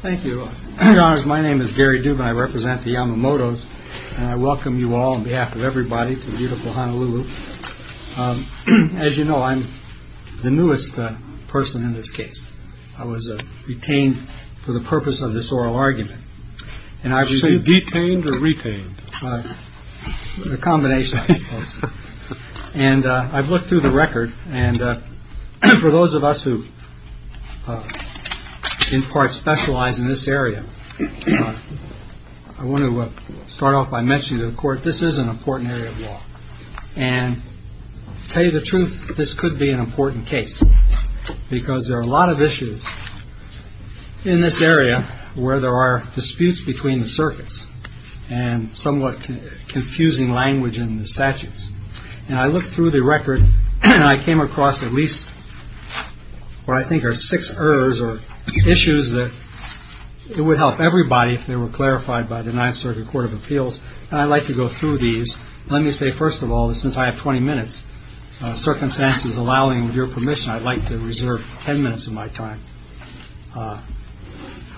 Thank you, your honors. My name is Gary Dubin. I represent the Yamamoto's and I welcome you all on behalf of everybody to beautiful Honolulu. As you know, I'm the newest person in this case. I was detained for the purpose of this oral argument. And I say detained or retained a combination. And I've looked through the record. And for those of us who in part specialize in this area, I want to start off by mentioning the court. This is an important area of law and tell you the truth. This could be an important case because there are a lot of issues in this area where there are disputes between the circuits and somewhat confusing language in the statutes. And I looked through the record and I came across at least what I think are six errors or issues that it would help everybody if they were clarified by the Ninth Circuit Court of Appeals. And I'd like to go through these. Let me say, first of all, since I have 20 minutes, circumstances allowing your permission, I'd like to reserve 10 minutes of my time.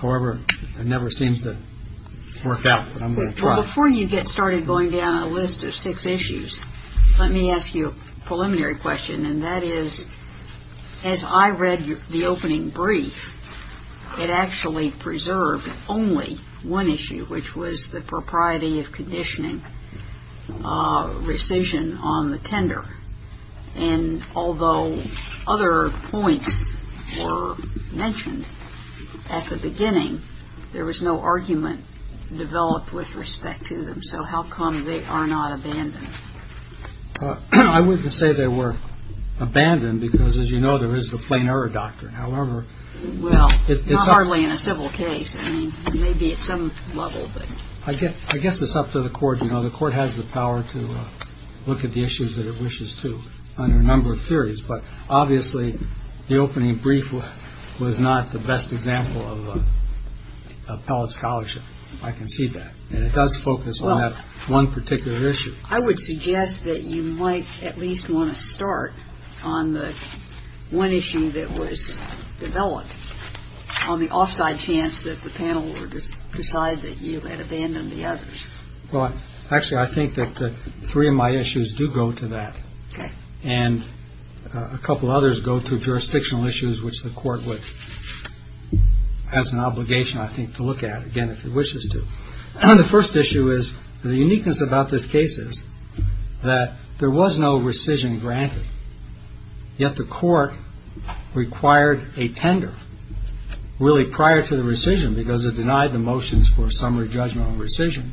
However, it never seems to work out, but I'm going to try. Before you get started going down a list of six issues, let me ask you a preliminary question. And that is, as I read the opening brief, it actually preserved only one issue, which was the decision on the tender. And although other points were mentioned at the beginning, there was no argument developed with respect to them. So how come they are not abandoned? I wouldn't say they were abandoned because, as you know, there is the plain error doctrine. However, it's not hardly in a civil case. I mean, maybe at some level, but I guess it's up to the court. You know, the court has the power to look at the issues that it wishes to under a number of theories. But obviously, the opening brief was not the best example of appellate scholarship. I can see that. And it does focus on that one particular issue. I would suggest that you might at least want to start on the one issue that was developed on the offside chance that the panel would decide that you had abandoned the others. Well, actually, I think that three of my issues do go to that. Okay. And a couple others go to jurisdictional issues, which the court has an obligation, I think, to look at, again, if it wishes to. The first issue is, the uniqueness about this case is that there was no rescission granted, yet the court required a tender really prior to the rescission because it denied the motions for summary judgment on rescission.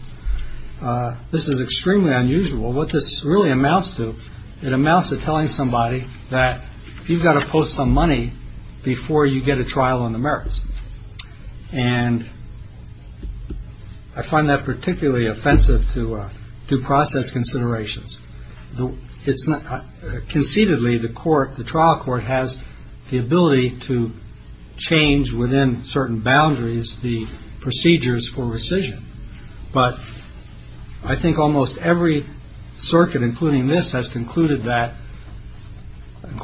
This is extremely unusual. What this really amounts to, it amounts to telling somebody that you've got to post some money before you get a trial on the merits. And I find that particularly offensive to due process considerations. Conceitedly, the trial court has the ability to change within certain boundaries the procedures for rescission. But I think almost every circuit, including this, has concluded that,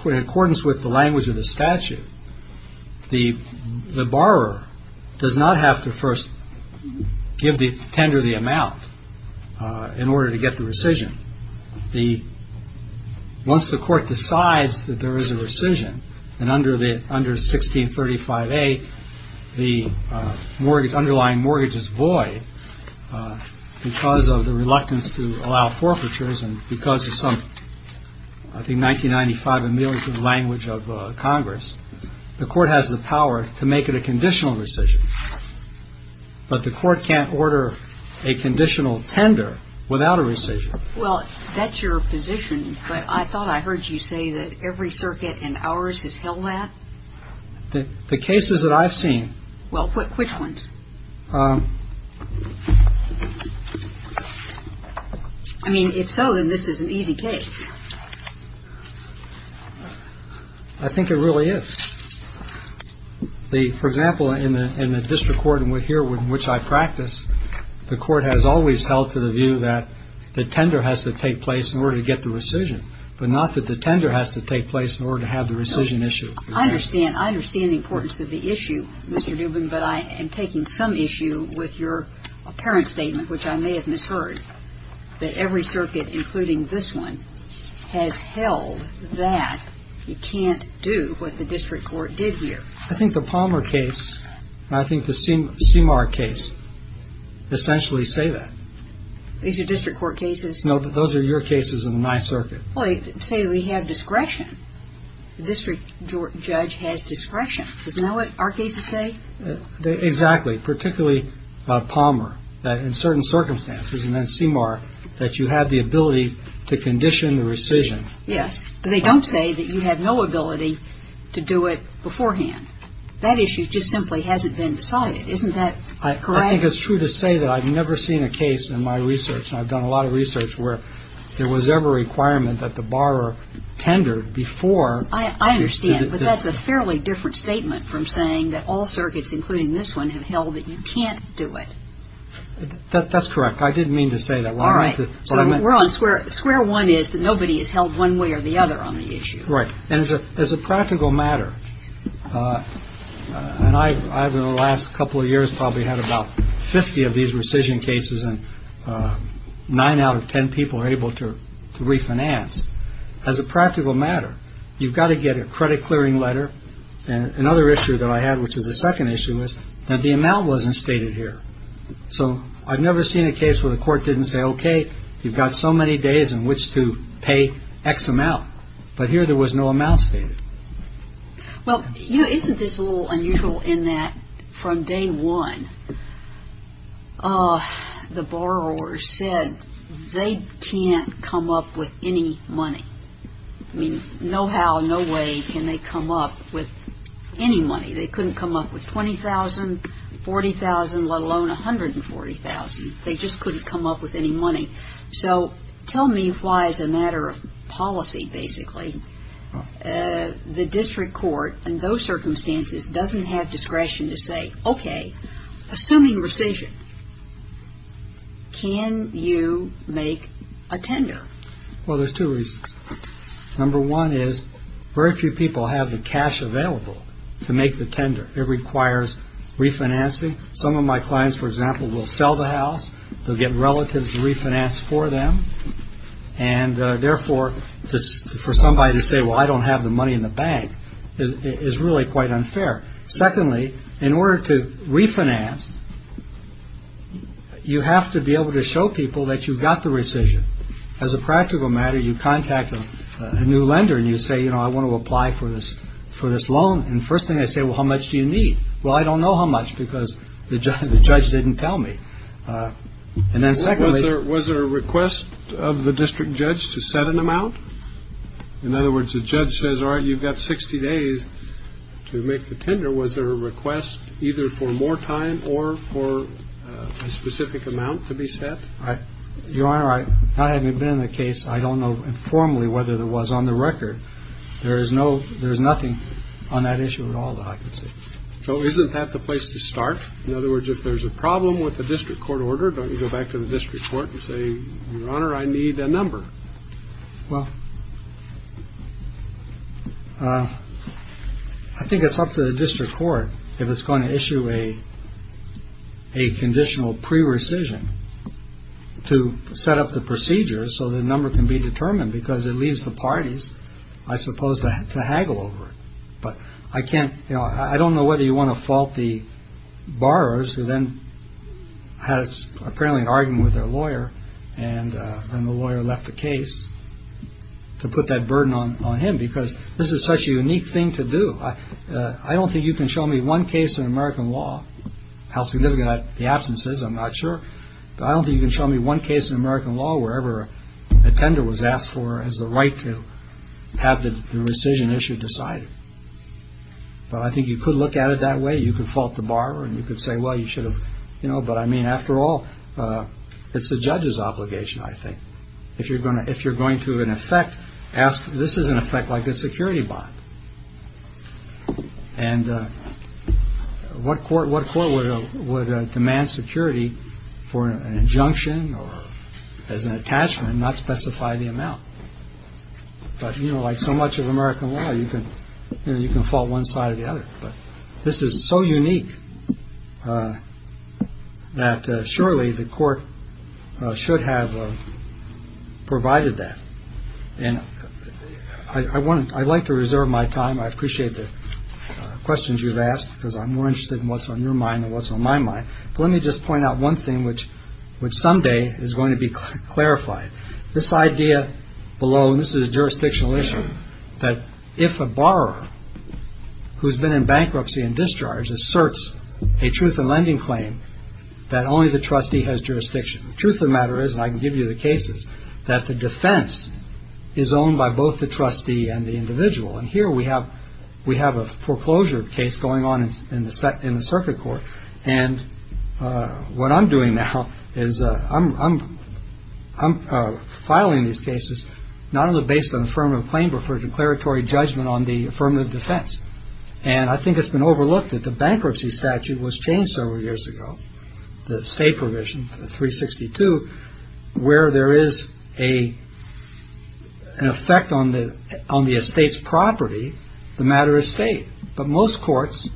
in accordance with the language of the statute, the borrower does not have to first give the tender the amount in order to get the rescission. Once the court decides that there is a rescission, and under 1635A, the underlying mortgage is void because of the reluctance to allow forfeitures, and because of some, I think, 1995 ameliorative language of Congress, the court has the power to make it a conditional rescission. But the court can't order a conditional tender without a rescission. Well, that's your position, but I thought I heard you say that every circuit in ours has held that. The cases that I've seen. Well, which ones? I mean, if so, then this is an easy case. I think it really is. For example, in the district court in which I practice, the court has always held to the view that the tender has to take place in order to get the rescission, but not that the tender has to take place in order to have the rescission issue. I understand. I understand the importance of the issue, Mr. Dubin, but I am taking some issue with your apparent statement, which I may have misheard, that every circuit, including this one, has held that you can't do what the district court did here. I think the Palmer case, and I think the Seymour case, essentially say that. These are district court cases? No, those are your cases and my circuit. Well, they say we have discretion. The district judge has discretion. Isn't that what our cases say? Exactly. Particularly Palmer, that in certain circumstances, and then Seymour, that you have the ability to condition the rescission. Yes, but they don't say that you have no ability to do it beforehand. Isn't that correct? I think it's true to say that I've never seen a case in my research, and I've done a lot of research, where there was ever a requirement that the borrower tendered before. I understand, but that's a fairly different statement from saying that all circuits, including this one, have held that you can't do it. That's correct. I didn't mean to say that. All right. So we're on square. Square one is that nobody is held one way or the other on the issue. Right. And as a practical matter, and I've in the last couple of years probably had about 50 of these rescission cases and nine out of 10 people are able to refinance. As a practical matter, you've got to get a credit clearing letter. And another issue that I had, which is the second issue, is that the amount wasn't stated here. So I've never seen a case where the court didn't say, OK, you've got so many days in which to pay X amount. But here there was no amount stated. Well, you know, isn't this a little unusual in that from day one, the borrower said they can't come up with any money. I mean, no how, no way can they come up with any money. They couldn't come up with $20,000, $40,000, let alone $140,000. They just couldn't come up with any money. So tell me why as a matter of policy, basically, the district court in those circumstances doesn't have discretion to say, OK, assuming rescission, can you make a tender? Well, there's two reasons. Number one is very few people have the cash available to make the tender. It requires refinancing. Some of my clients, for example, will sell the house. They'll get relatives to refinance for them. And therefore, just for somebody to say, well, I don't have the money in the bank is really quite unfair. Secondly, in order to refinance, you have to be able to show people that you've got the rescission. As a practical matter, you contact a new lender and you say, you know, I want to apply for this for this loan. And first thing I say, well, how much do you need? Well, I don't know how much because the judge didn't tell me. And then secondly, there was a request of the district judge to set an amount. In other words, the judge says, all right, you've got 60 days to make the tender. Was there a request either for more time or for a specific amount to be set? Your Honor, I haven't been in the case. I don't know informally whether there was on the record. There is no there's nothing on that issue at all. So isn't that the place to start? In other words, if there's a problem with the district court order, don't go back to the district court and say, Your Honor, I need a number. Well, I think it's up to the district court if it's going to issue a a conditional pre-rescission to set up the procedure. So the number can be determined because it leaves the parties, I suppose, to haggle over. But I can't, you know, I don't know whether you want to fault the borrowers who then had apparently an argument with their lawyer. And then the lawyer left the case to put that burden on him because this is such a unique thing to do. I don't think you can show me one case in American law, how significant the absence is, I'm not sure. I don't think you can show me one case in American law wherever a tender was asked for as the right to have the rescission issue decided. But I think you could look at it that way. You could fault the borrower and you could say, well, you should have, you know, but I mean, after all, it's the judge's obligation, I think. If you're going to if you're going to an effect, ask. This is an effect like a security bond. And what court what court would demand security for an injunction or as an attachment, not specify the amount. But, you know, like so much of American law, you can you can fault one side or the other. But this is so unique that surely the court should have provided that. And I want I'd like to reserve my time. I appreciate the questions you've asked because I'm more interested in what's on your mind and what's on my mind. But let me just point out one thing, which would someday is going to be clarified. This idea below. And this is a jurisdictional issue that if a borrower who's been in bankruptcy and discharged asserts a truth in lending claim that only the trustee has jurisdiction. The truth of the matter is, and I can give you the cases that the defense is owned by both the trustee and the individual. And here we have we have a foreclosure case going on in the circuit court. And what I'm doing now is I'm I'm I'm filing these cases not only based on affirmative claim, but for declaratory judgment on the affirmative defense. And I think it's been overlooked that the bankruptcy statute was changed several years ago. The state provision 362, where there is a an effect on the on the estate's property. The matter is state. But most courts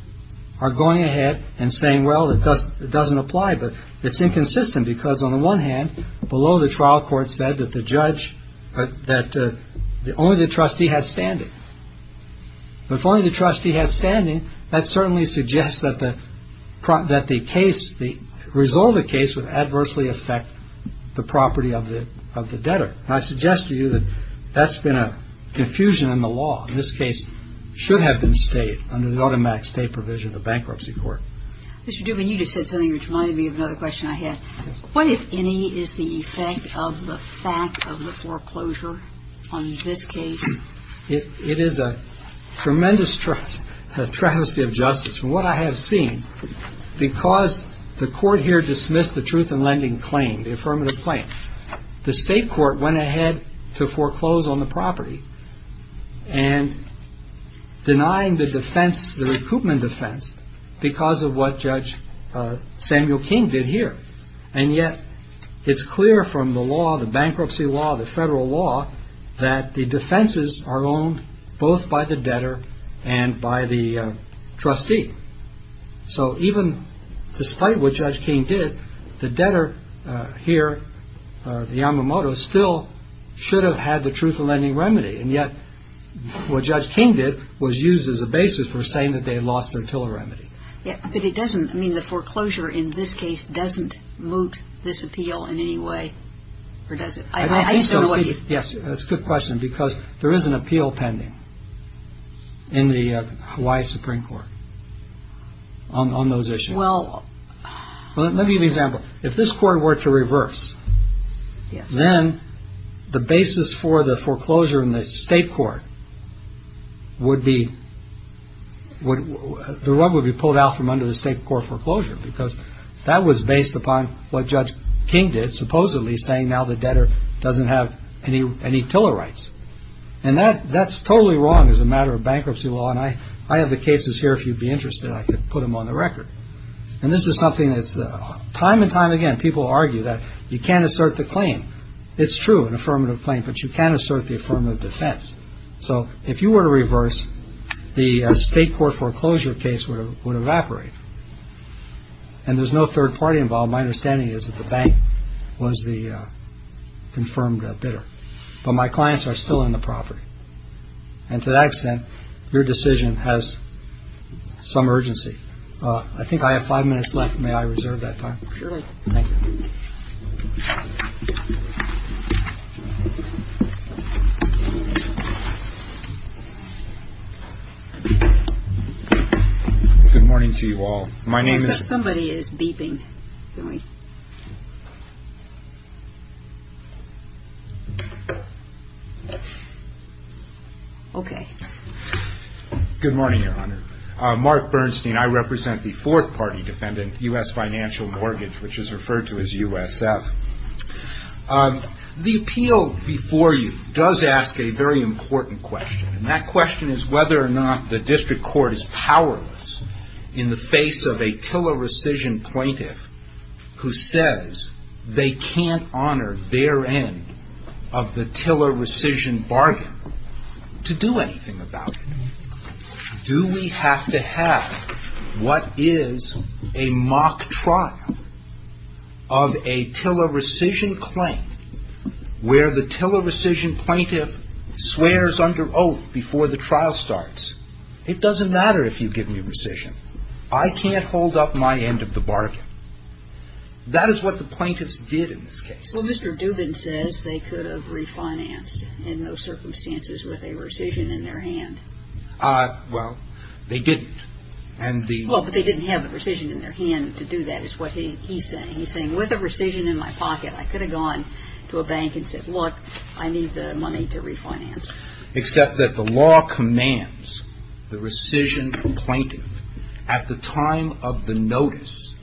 are going ahead and saying, well, it doesn't it doesn't apply. But it's inconsistent because on the one hand, below the trial court said that the judge that only the trustee had standing. If only the trustee had standing. That certainly suggests that the that the case, the result of the case would adversely affect the property of the of the debtor. I suggest to you that that's been a confusion in the law. In this case should have been state under the automatic state provision of the bankruptcy court. Mr. Dubin, you just said something which reminded me of another question I had. What, if any, is the effect of the fact of the foreclosure on this case? It is a tremendous trust, a travesty of justice. From what I have seen, because the court here dismissed the truth in lending claim, the affirmative claim. The state court went ahead to foreclose on the property and denying the defense, the recoupment defense because of what Judge Samuel King did here. And yet it's clear from the law, the bankruptcy law, the federal law that the defenses are owned both by the debtor and by the trustee. So even despite what Judge King did, the debtor here, the Yamamoto, still should have had the truth in lending remedy. And yet what Judge King did was used as a basis for saying that they lost their remedy. But it doesn't mean the foreclosure in this case doesn't moot this appeal in any way. Or does it? Yes, that's a good question, because there is an appeal pending in the Hawaii Supreme Court on those issues. Well, let me give you an example. If this court were to reverse, then the basis for the foreclosure in the state court would be what would be pulled out from under the state court foreclosure. Because that was based upon what Judge King did, supposedly saying now the debtor doesn't have any TILA rights. And that that's totally wrong as a matter of bankruptcy law. And I have the cases here. If you'd be interested, I could put them on the record. And this is something that's time and time again, people argue that you can't assert the claim. It's true, an affirmative claim, but you can assert the affirmative defense. So if you were to reverse, the state court foreclosure case would evaporate. And there's no third party involved. My understanding is that the bank was the confirmed bidder. But my clients are still on the property. And to that extent, your decision has some urgency. I think I have five minutes left. May I reserve that time? Sure. Good morning to you all. My name is somebody is beeping. OK. Good morning, Your Honor. Mark Bernstein. I represent the fourth party defendant, U.S. Financial Mortgage, which is referred to as USF. The appeal before you does ask a very important question. And that question is whether or not the district court is powerless in the face of a TILA rescission plaintiff who says they can't honor their end of the TILA rescission bargain to do anything about it. Do we have to have what is a mock trial of a TILA rescission claim where the TILA rescission plaintiff swears under oath before the trial starts? It doesn't matter if you give me rescission. I can't hold up my end of the bargain. That is what the plaintiffs did in this case. Well, Mr. Dubin says they could have refinanced in those circumstances with a rescission in their hand. Well, they didn't. And the. Well, but they didn't have the rescission in their hand to do that is what he's saying. He's saying with a rescission in my pocket, I could have gone to a bank and said, look, I need the money to refinance. Except that the law commands the rescission plaintiff at the time of the notice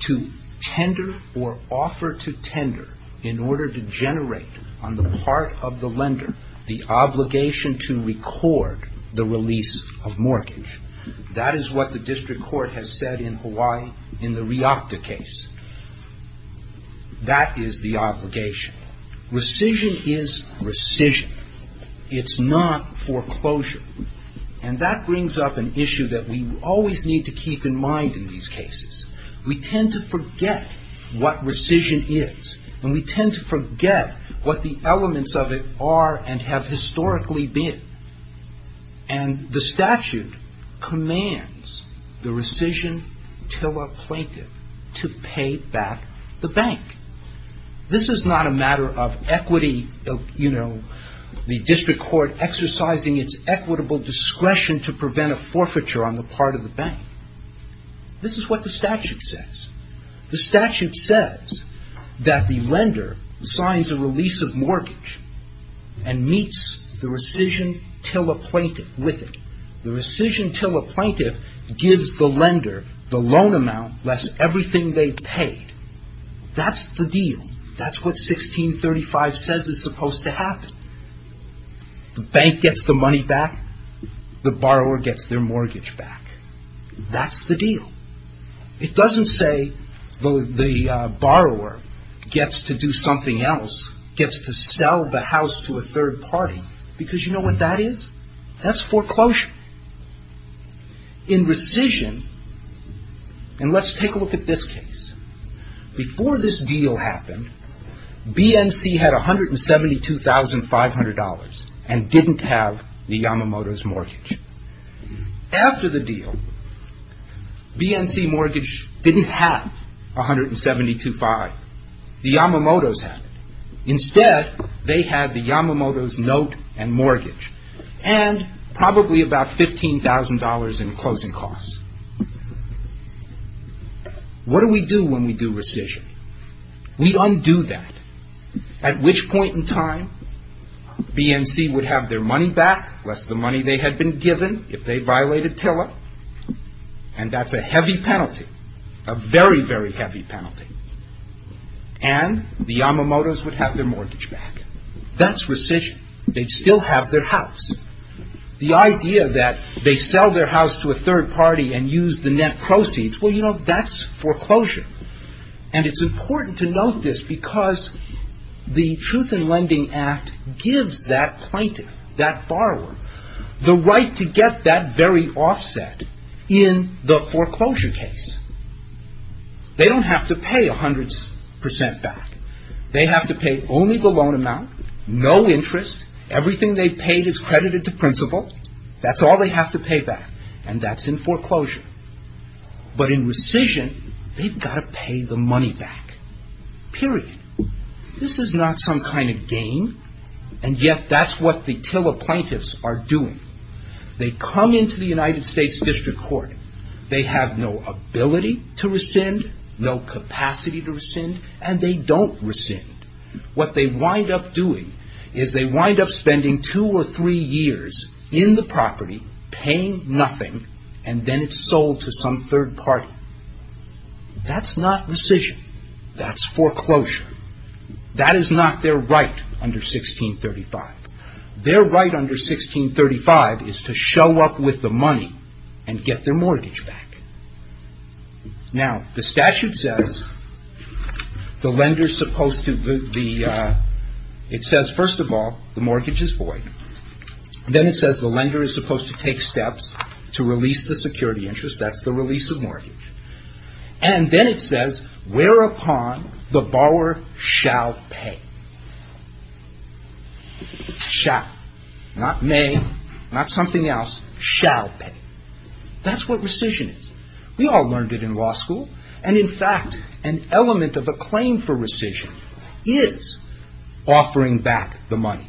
to tender or offer to tender in order to generate on the part of the lender the obligation to record the release of mortgage. That is what the district court has said in Hawaii in the Riopta case. That is the obligation. Rescission is rescission. It's not foreclosure. And that brings up an issue that we always need to keep in mind in these cases. We tend to forget what rescission is and we tend to forget what the elements of it are and have historically been. And the statute commands the rescission tiller plaintiff to pay back the bank. This is not a matter of equity. You know, the district court exercising its equitable discretion to prevent a forfeiture on the part of the bank. This is what the statute says. The statute says that the lender signs a release of mortgage and meets the rescission tiller plaintiff with it. The rescission tiller plaintiff gives the lender the loan amount less everything they've paid. That's the deal. That's what 1635 says is supposed to happen. The bank gets the money back. The borrower gets their mortgage back. That's the deal. It doesn't say the borrower gets to do something else, gets to sell the house to a third party. Because you know what that is? That's foreclosure. In rescission, and let's take a look at this case. Before this deal happened, BNC had $172,500 and didn't have the Yamamoto's mortgage. After the deal, BNC mortgage didn't have $172,500. The Yamamoto's had it. Instead, they had the Yamamoto's note and mortgage and probably about $15,000 in closing costs. What do we do when we do rescission? We undo that. At which point in time, BNC would have their money back, less the money they had been given if they violated tiller. And that's a heavy penalty, a very, very heavy penalty. And the Yamamoto's would have their mortgage back. That's rescission. They'd still have their house. The idea that they sell their house to a third party and use the net proceeds, well you know, that's foreclosure. And it's important to note this because the Truth in Lending Act gives that plaintiff, that borrower, the right to get that very offset in the foreclosure case. They don't have to pay 100% back. They have to pay only the loan amount, no interest. Everything they paid is credited to principal. That's all they have to pay back. And that's in foreclosure. But in rescission, they've got to pay the money back. Period. This is not some kind of game, and yet that's what the tiller plaintiffs are doing. They come into the United States District Court. They have no ability to rescind, no capacity to rescind, and they don't rescind. What they wind up doing is they wind up spending two or three years in the property, paying nothing, and then it's sold to some third party. That's not rescission. That's foreclosure. That is not their right under 1635. Their right under 1635 is to show up with the money and get their mortgage back. Now, the statute says the lender is supposed to the, it says, first of all, the mortgage is void. Then it says the lender is supposed to take steps to release the security interest. That's the release of mortgage. And then it says, whereupon the borrower shall pay. Shall. Not may. Not something else. Shall pay. That's what rescission is. We all learned it in law school. And in fact, an element of a claim for rescission is offering back the money.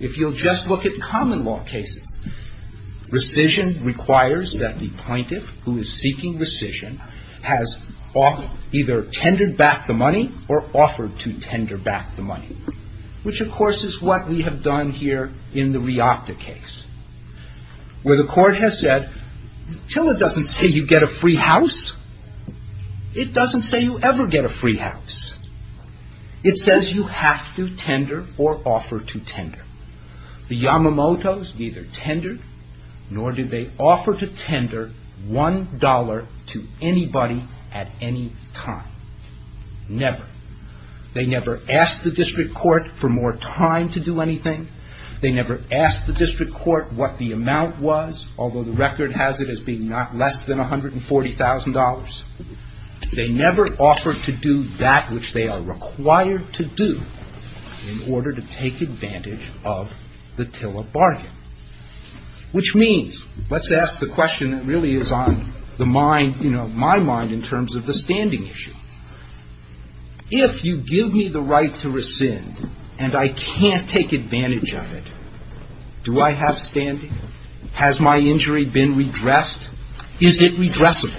If you'll just look at common law cases, rescission requires that the plaintiff who is seeking rescission has either tendered back the money or offered to tender back the money. Which, of course, is what we have done here in the Riata case. Where the court has said, till it doesn't say you get a free house, it doesn't say you ever get a free house. It says you have to tender or offer to tender. The Yamamoto's neither tendered nor did they offer to tender one dollar to anybody at any time. Never. They never asked the district court for more time to do anything. They never asked the district court what the amount was, although the record has it as being less than $140,000. They never offered to do that which they are required to do in order to take advantage of the tiller bargain. Which means, let's ask the question that really is on the mind, you know, my mind in terms of the standing issue. If you give me the right to rescind and I can't take advantage of it, do I have standing? Has my injury been redressed? Is it redressable?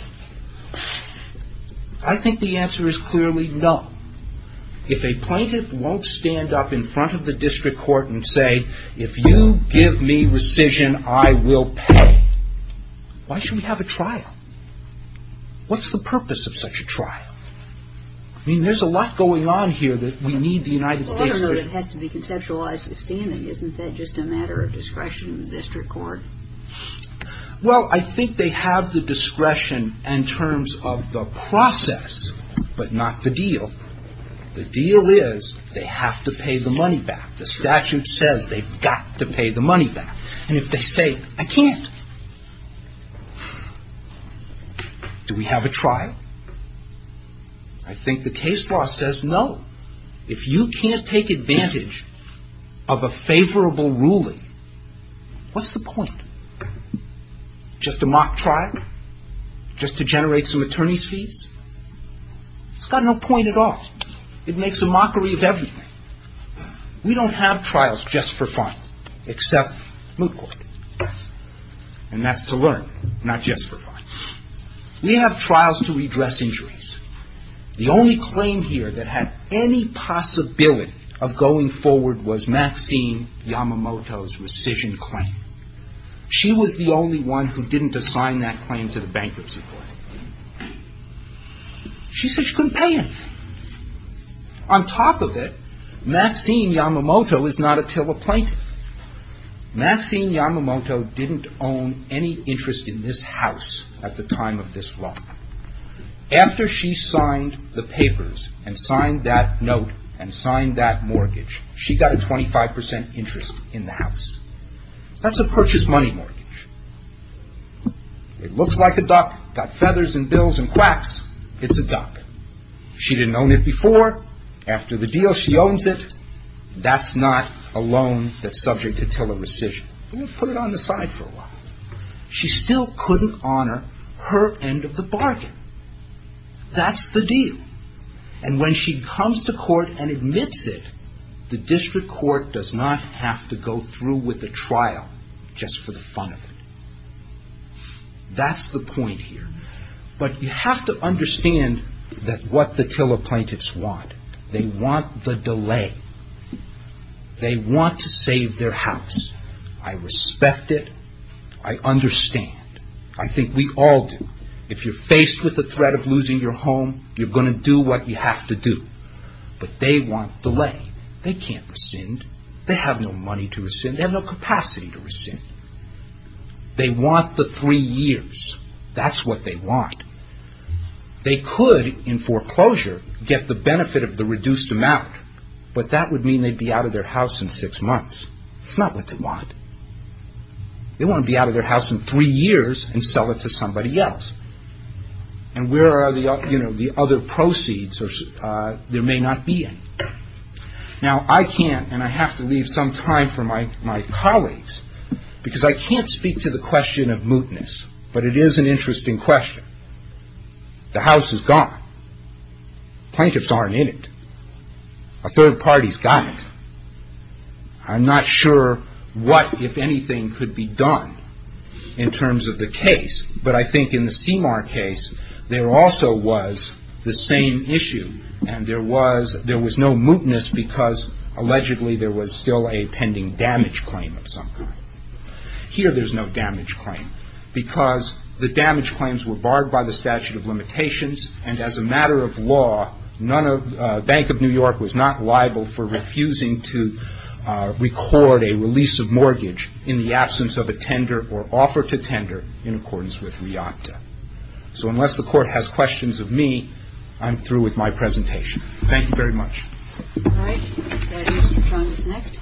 I think the answer is clearly no. If a plaintiff won't stand up in front of the district court and say, if you give me rescission, I will pay, why should we have a trial? What's the purpose of such a trial? I mean, there's a lot going on here that we need the United States. It has to be conceptualized as standing, isn't that just a matter of discretion in the district court? Well, I think they have the discretion in terms of the process, but not the deal. The deal is they have to pay the money back. The statute says they've got to pay the money back. And if they say, I can't, do we have a trial? I think the case law says no. If you can't take advantage of a favorable ruling, what's the point? Just a mock trial? Just to generate some attorney's fees? It's got no point at all. It makes a mockery of everything. We don't have trials just for fun, except moot court. And that's to learn, not just for fun. We have trials to redress injuries. The only claim here that had any possibility of going forward was Maxine Yamamoto's rescission claim. She was the only one who didn't assign that claim to the bankruptcy court. She said she couldn't pay anything. On top of it, Maxine Yamamoto is not a tiller plaintiff. Maxine Yamamoto didn't own any interest in this house at the time of this law. After she signed the papers and signed that note and signed that mortgage, she got a 25% interest in the house. That's a purchase money mortgage. It looks like a duck, got feathers and bills and quacks. It's a duck. She didn't own it before. After the deal, she owns it. That's not a loan that's subject to tiller rescission. We'll put it on the side for a while. She still couldn't honor her end of the bargain. That's the deal. And when she comes to court and admits it, the district court does not have to go through with the trial just for the fun of it. That's the point here. But you have to understand what the tiller plaintiffs want. They want the delay. They want to save their house. I respect it. I understand. I think we all do. If you're faced with the threat of losing your home, you're going to do what you have to do. But they want delay. They can't rescind. They have no money to rescind. They have no capacity to rescind. They want the three years. That's what they want. They could, in foreclosure, get the benefit of the reduced amount, but that would mean they'd be out of their house in six months. That's not what they want. They want to be out of their house in three years and sell it to somebody else. And where are the other proceeds? There may not be any. Now, I can't, and I have to leave some time for my colleagues, because I can't speak to the question of mootness, but it is an interesting question. The house is gone. Plaintiffs aren't in it. A third party's got it. I'm not sure what, if anything, could be done in terms of the case, but I think in the Seymour case, there also was the same issue, and there was no mootness because, allegedly, there was still a pending damage claim of some kind. Here, there's no damage claim because the damage claims were barred by the statute of limitations, and as a matter of law, Bank of New York was not liable for refusing to record a release of mortgage in the absence of a tender or offer to tender in accordance with REACTA. So unless the Court has questions of me, I'm through with my presentation. Thank you very much. All right. Mr. Jones is next.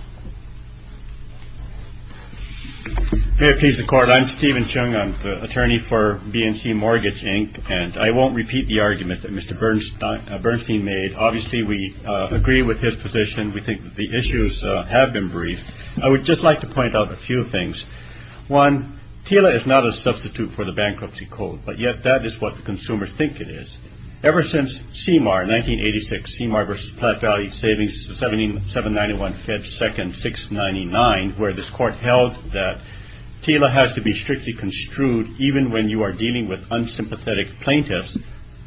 May it please the Court. I'm Stephen Chung. I'm the attorney for BNC Mortgage, Inc., and I won't repeat the argument that Mr. Bernstein made. Obviously, we agree with his position. We think that the issues have been briefed. I would just like to point out a few things. One, TILA is not a substitute for the bankruptcy code, but yet that is what the consumers think it is. Ever since CMAR, 1986, CMAR versus Platte Valley Savings, 791-5-2-699, where this Court held that TILA has to be strictly construed even when you are dealing with unsympathetic plaintiffs,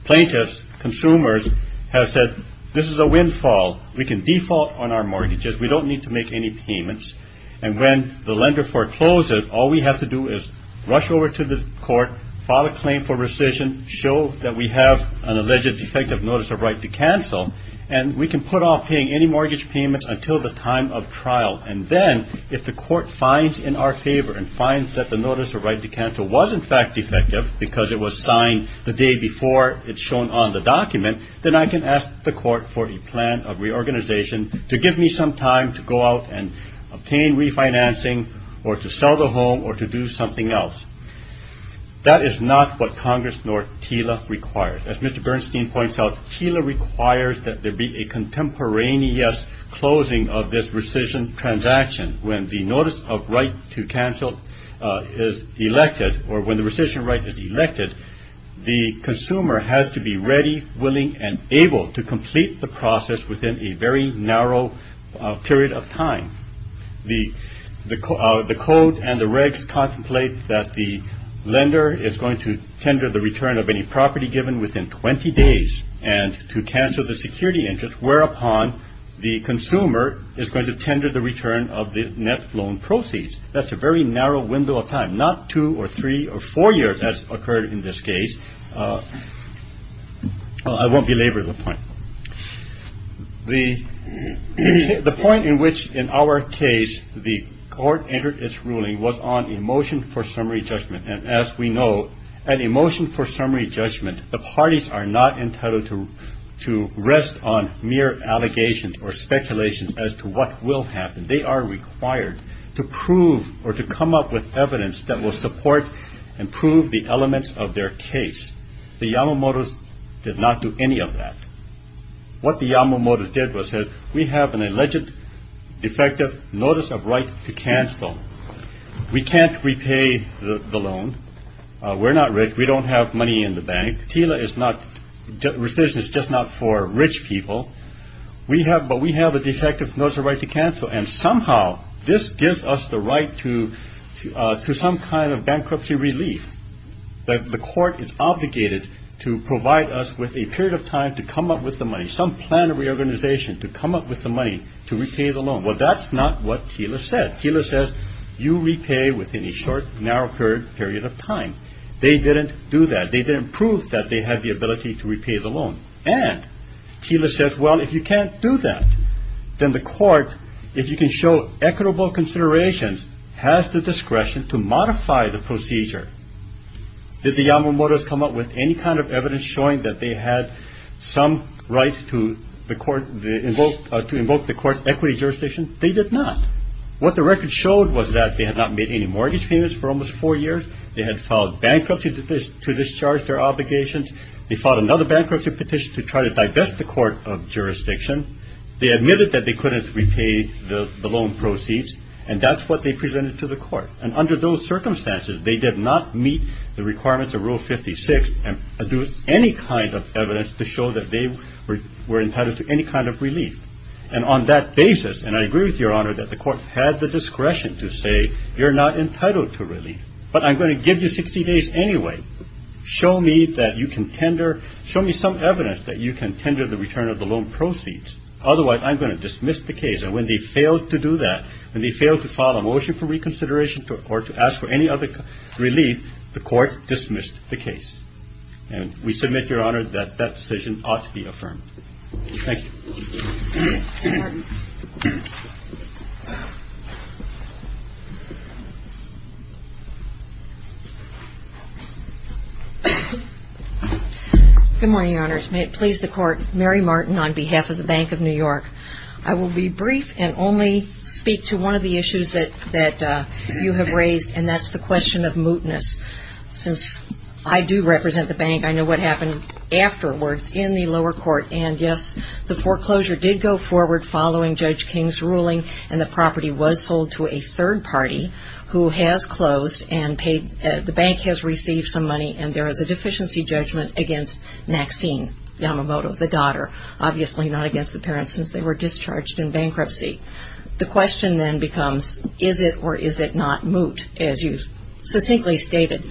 plaintiffs, consumers, have said, this is a windfall. We can default on our mortgages. We don't need to make any payments, and when the lender forecloses, all we have to do is rush over to the Court, file a claim for rescission, show that we have an alleged defective notice of right to cancel, and we can put off paying any mortgage payments until the time of trial. And then if the Court finds in our favor and finds that the notice of right to cancel was in fact defective because it was signed the day before it's shown on the document, then I can ask the Court for a plan of reorganization to give me some time to go out and obtain refinancing or to sell the home or to do something else. That is not what Congress nor TILA requires. As Mr. Bernstein points out, TILA requires that there be a contemporaneous closing of this rescission transaction. When the notice of right to cancel is elected or when the rescission right is elected, the consumer has to be ready, willing, and able to complete the process within a very narrow period of time. The Code and the regs contemplate that the lender is going to tender the return of any property given within 20 days and to cancel the security interest, whereupon the consumer is going to tender the return of the net loan proceeds. That's a very narrow window of time, not two or three or four years, as occurred in this case. I won't belabor the point. The point in which, in our case, the Court entered its ruling was on a motion for summary judgment, and as we know, an emotion for summary judgment, the parties are not entitled to rest on mere allegations or speculations as to what will happen. They are required to prove or to come up with evidence that will support and prove the elements of their case. The Yamamoto's did not do any of that. What the Yamamoto's did was said, we have an alleged defective notice of right to cancel. We can't repay the loan. We're not rich. We don't have money in the bank. TELA is not, rescission is just not for rich people. We have, but we have a defective notice of right to cancel, and somehow this gives us the right to some kind of bankruptcy relief. The Court is obligated to provide us with a period of time to come up with the money, some plan of reorganization to come up with the money to repay the loan. Well, that's not what TELA said. TELA says you repay within a short, narrow period of time. They didn't do that. They didn't prove that they had the ability to repay the loan, and TELA says, well, if you can't do that, then the Court, if you can show equitable considerations, has the discretion to modify the procedure. Did the Yamamoto's come up with any kind of evidence showing that they had some right to invoke the Court's equity jurisdiction? They did not. What the record showed was that they had not made any mortgage payments for almost four years. They had filed bankruptcy petitions to discharge their obligations. They filed another bankruptcy petition to try to divest the Court of Jurisdiction. They admitted that they couldn't repay the loan proceeds, and that's what they presented to the Court. And under those circumstances, they did not meet the requirements of Rule 56 and do any kind of evidence to show that they were entitled to any kind of relief. And on that basis, and I agree with Your Honor that the Court had the discretion to say you're not entitled to relief, but I'm going to give you 60 days anyway. Show me that you can tender – show me some evidence that you can tender the return of the loan proceeds. Otherwise, I'm going to dismiss the case. And when they failed to do that, when they failed to file a motion for reconsideration or to ask for any other relief, the Court dismissed the case. And we submit, Your Honor, that that decision ought to be affirmed. Thank you. Mary Martin. Good morning, Your Honors. May it please the Court, Mary Martin on behalf of the Bank of New York. I will be brief and only speak to one of the issues that you have raised, and that's the question of mootness. Since I do represent the bank, I know what happened afterwards in the lower court. And, yes, the foreclosure did go forward following Judge King's ruling, and the property was sold to a third party who has closed and paid – the bank has received some money, and there is a deficiency judgment against Maxine Yamamoto, the daughter, obviously not against the parents since they were discharged in bankruptcy. The question then becomes, is it or is it not moot, as you succinctly stated?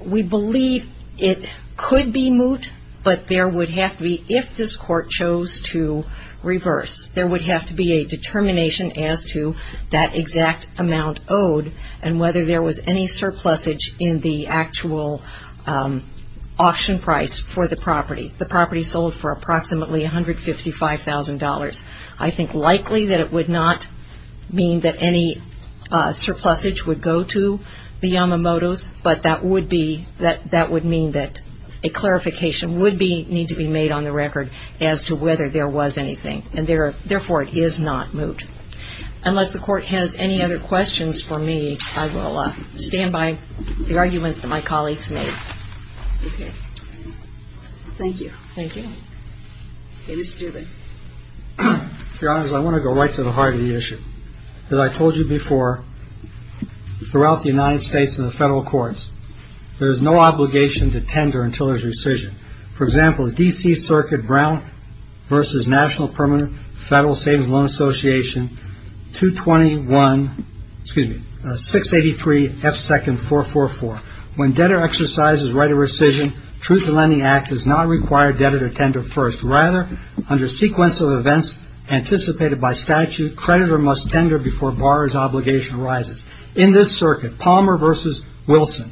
We believe it could be moot, but there would have to be, if this Court chose to reverse, there would have to be a determination as to that exact amount owed and whether there was any surplusage in the actual auction price for the property. The property sold for approximately $155,000. I think likely that it would not mean that any surplusage would go to the Yamamotos, but that would be – that would mean that a clarification would need to be made on the record as to whether there was anything, and therefore it is not moot. Unless the Court has any other questions for me, I will stand by the arguments that my colleagues made. Okay. Thank you. Thank you. Okay, Mr. Dubin. Your Honors, I want to go right to the heart of the issue. As I told you before, throughout the United States and the federal courts, there is no obligation to tender until there is rescission. For example, the D.C. Circuit Brown v. National Permanent Federal Savings Loan Association, 221 – excuse me, 683 F. 2nd. 444. When debtor exercises right of rescission, Truth in Lending Act does not require debtor to tender first. Rather, under sequence of events anticipated by statute, creditor must tender before borrower's obligation arises. In this circuit, Palmer v. Wilson,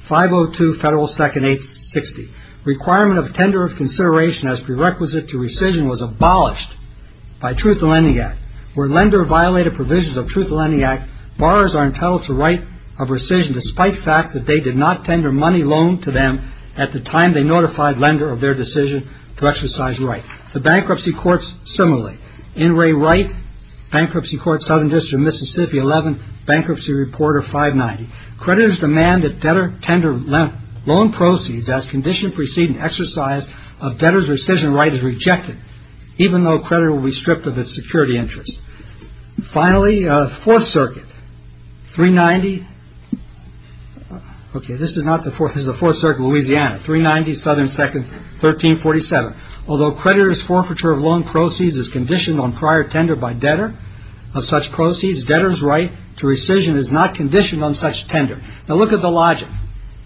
502 F. 2nd. 860. Requirement of tender of consideration as prerequisite to rescission was abolished by Truth in Lending Act. Where lender violated provisions of Truth in Lending Act, borrowers are entitled to right of rescission despite fact that they did not tender money loaned to them at the time they notified lender of their decision to exercise right. The bankruptcy courts similarly. In re right, Bankruptcy Court, Southern District, Mississippi, 11, Bankruptcy Reporter, 590. Creditors demand that debtor tender loan proceeds as condition preceding exercise of debtor's rescission right is rejected, even though creditor will be stripped of its security interest. Finally, Fourth Circuit, 390. Okay, this is not the Fourth. This is the Fourth Circuit, Louisiana, 390, Southern 2nd. 1347. Although creditor's forfeiture of loan proceeds is conditioned on prior tender by debtor of such proceeds, debtor's right to rescission is not conditioned on such tender. Now look at the logic.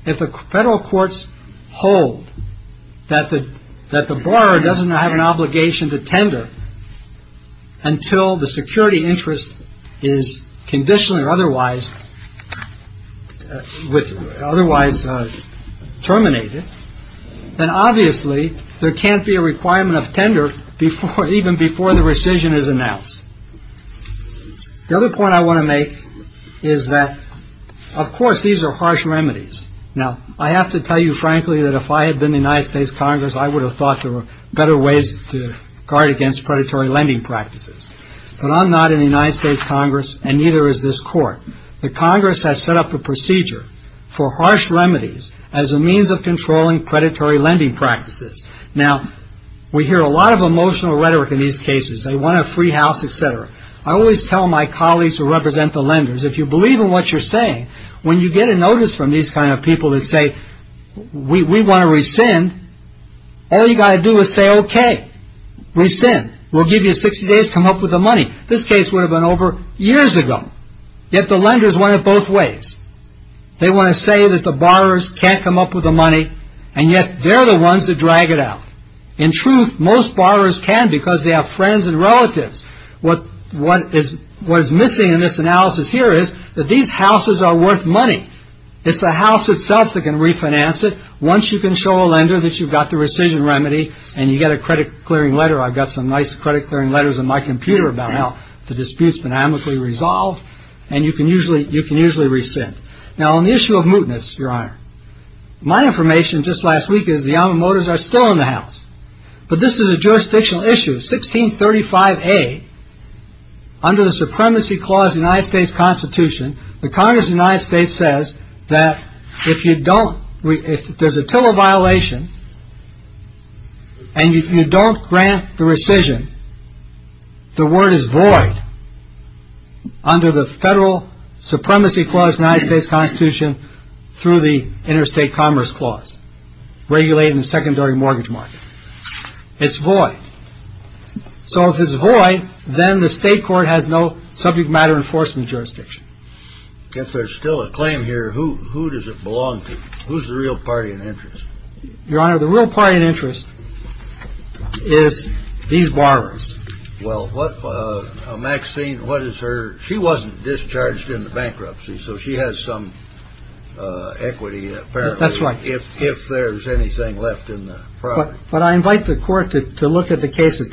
If the federal courts hold that the borrower doesn't have an obligation to tender until the security interest is conditioned or otherwise terminated, then obviously there can't be a requirement of tender even before the rescission is announced. The other point I want to make is that, of course, these are harsh remedies. Now, I have to tell you, frankly, that if I had been in the United States Congress, I would have thought there were better ways to guard against predatory lending practices. But I'm not in the United States Congress, and neither is this court. The Congress has set up a procedure for harsh remedies as a means of controlling predatory lending practices. Now, we hear a lot of emotional rhetoric in these cases. They want a free house, et cetera. I always tell my colleagues who represent the lenders, if you believe in what you're saying, when you get a notice from these kind of people that say, we want to rescind, all you got to do is say, okay, rescind. We'll give you 60 days, come up with the money. This case would have been over years ago. Yet the lenders want it both ways. They want to say that the borrowers can't come up with the money, and yet they're the ones that drag it out. In truth, most borrowers can because they have friends and relatives. What is missing in this analysis here is that these houses are worth money. It's the house itself that can refinance it. Once you can show a lender that you've got the rescission remedy and you get a credit-clearing letter, I've got some nice credit-clearing letters on my computer about how the dispute's been amicably resolved, and you can usually rescind. Now, on the issue of mootness, Your Honor, my information just last week is the alma maters are still in the house. But this is a jurisdictional issue. 1635A, under the Supremacy Clause of the United States Constitution, the Congress of the United States says that if there's a tiller violation and you don't grant the rescission, the word is void under the Federal Supremacy Clause of the United States Constitution through the Interstate Commerce Clause, regulating the secondary mortgage market. It's void. So if it's void, then the state court has no subject matter enforcement jurisdiction. If there's still a claim here, who does it belong to? Who's the real party in interest? Your Honor, the real party in interest is these borrowers. Well, Maxine, what is her – she wasn't discharged in the bankruptcy, so she has some equity, apparently. That's right. If there's anything left in the property. But I invite the court to look at the case of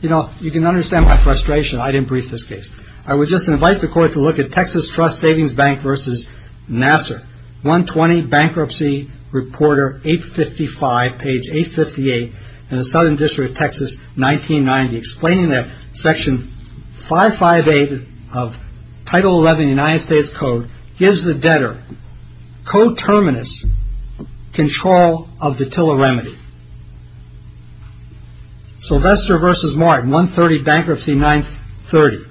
– you know, you can understand my frustration. I didn't brief this case. I would just invite the court to look at Texas Trust Savings Bank v. Nassar, 120 Bankruptcy Reporter 855, page 858, in the Southern District of Texas, 1990, explaining that Section 558 of Title 11 of the United States Code gives the debtor coterminous control of the tiller remedy. Sylvester v. Martin, 130 Bankruptcy 930,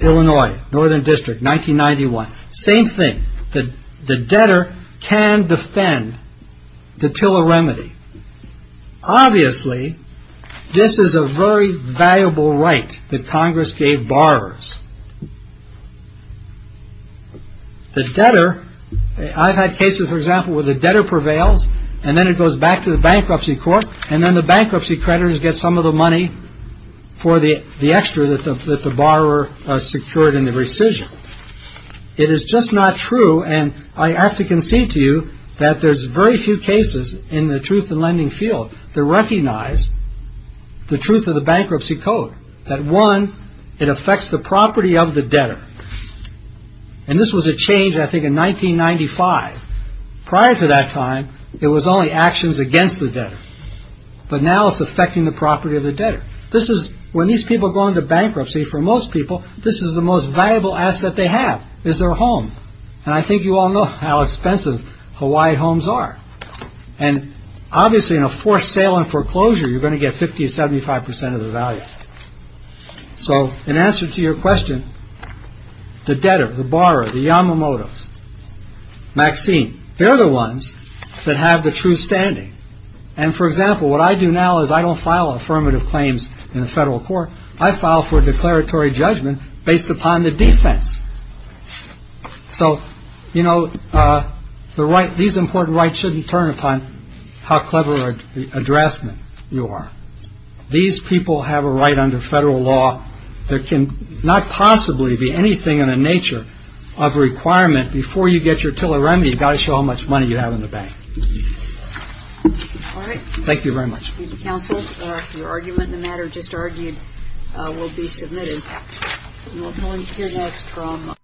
Illinois, Northern District, 1991. Same thing. The debtor can defend the tiller remedy. Obviously, this is a very valuable right that Congress gave borrowers. The debtor – I've had cases, for example, where the debtor prevails and then it goes back to the bankruptcy court, and then the bankruptcy creditors get some of the money for the extra that the borrower secured in the rescission. It is just not true, and I have to concede to you that there's very few cases in the truth and lending field that recognize the truth of the bankruptcy code. One, it affects the property of the debtor. This was a change, I think, in 1995. Prior to that time, it was only actions against the debtor, but now it's affecting the property of the debtor. When these people go into bankruptcy, for most people, this is the most valuable asset they have, is their home. I think you all know how expensive Hawaiian homes are. Obviously, in a forced sale and foreclosure, you're going to get 50% to 75% of the value. In answer to your question, the debtor, the borrower, the Yamamotos, Maxine, they're the ones that have the true standing. For example, what I do now is I don't file affirmative claims in the federal court. I file for a declaratory judgment based upon the defense. So, you know, these important rights shouldn't turn upon how clever a draftsman you are. These people have a right under federal law. There can not possibly be anything in the nature of a requirement. Before you get your tiller remedy, you've got to show how much money you have in the bank. Thank you very much. Thank you, counsel. Your argument in the matter just argued will be submitted. We'll hear next from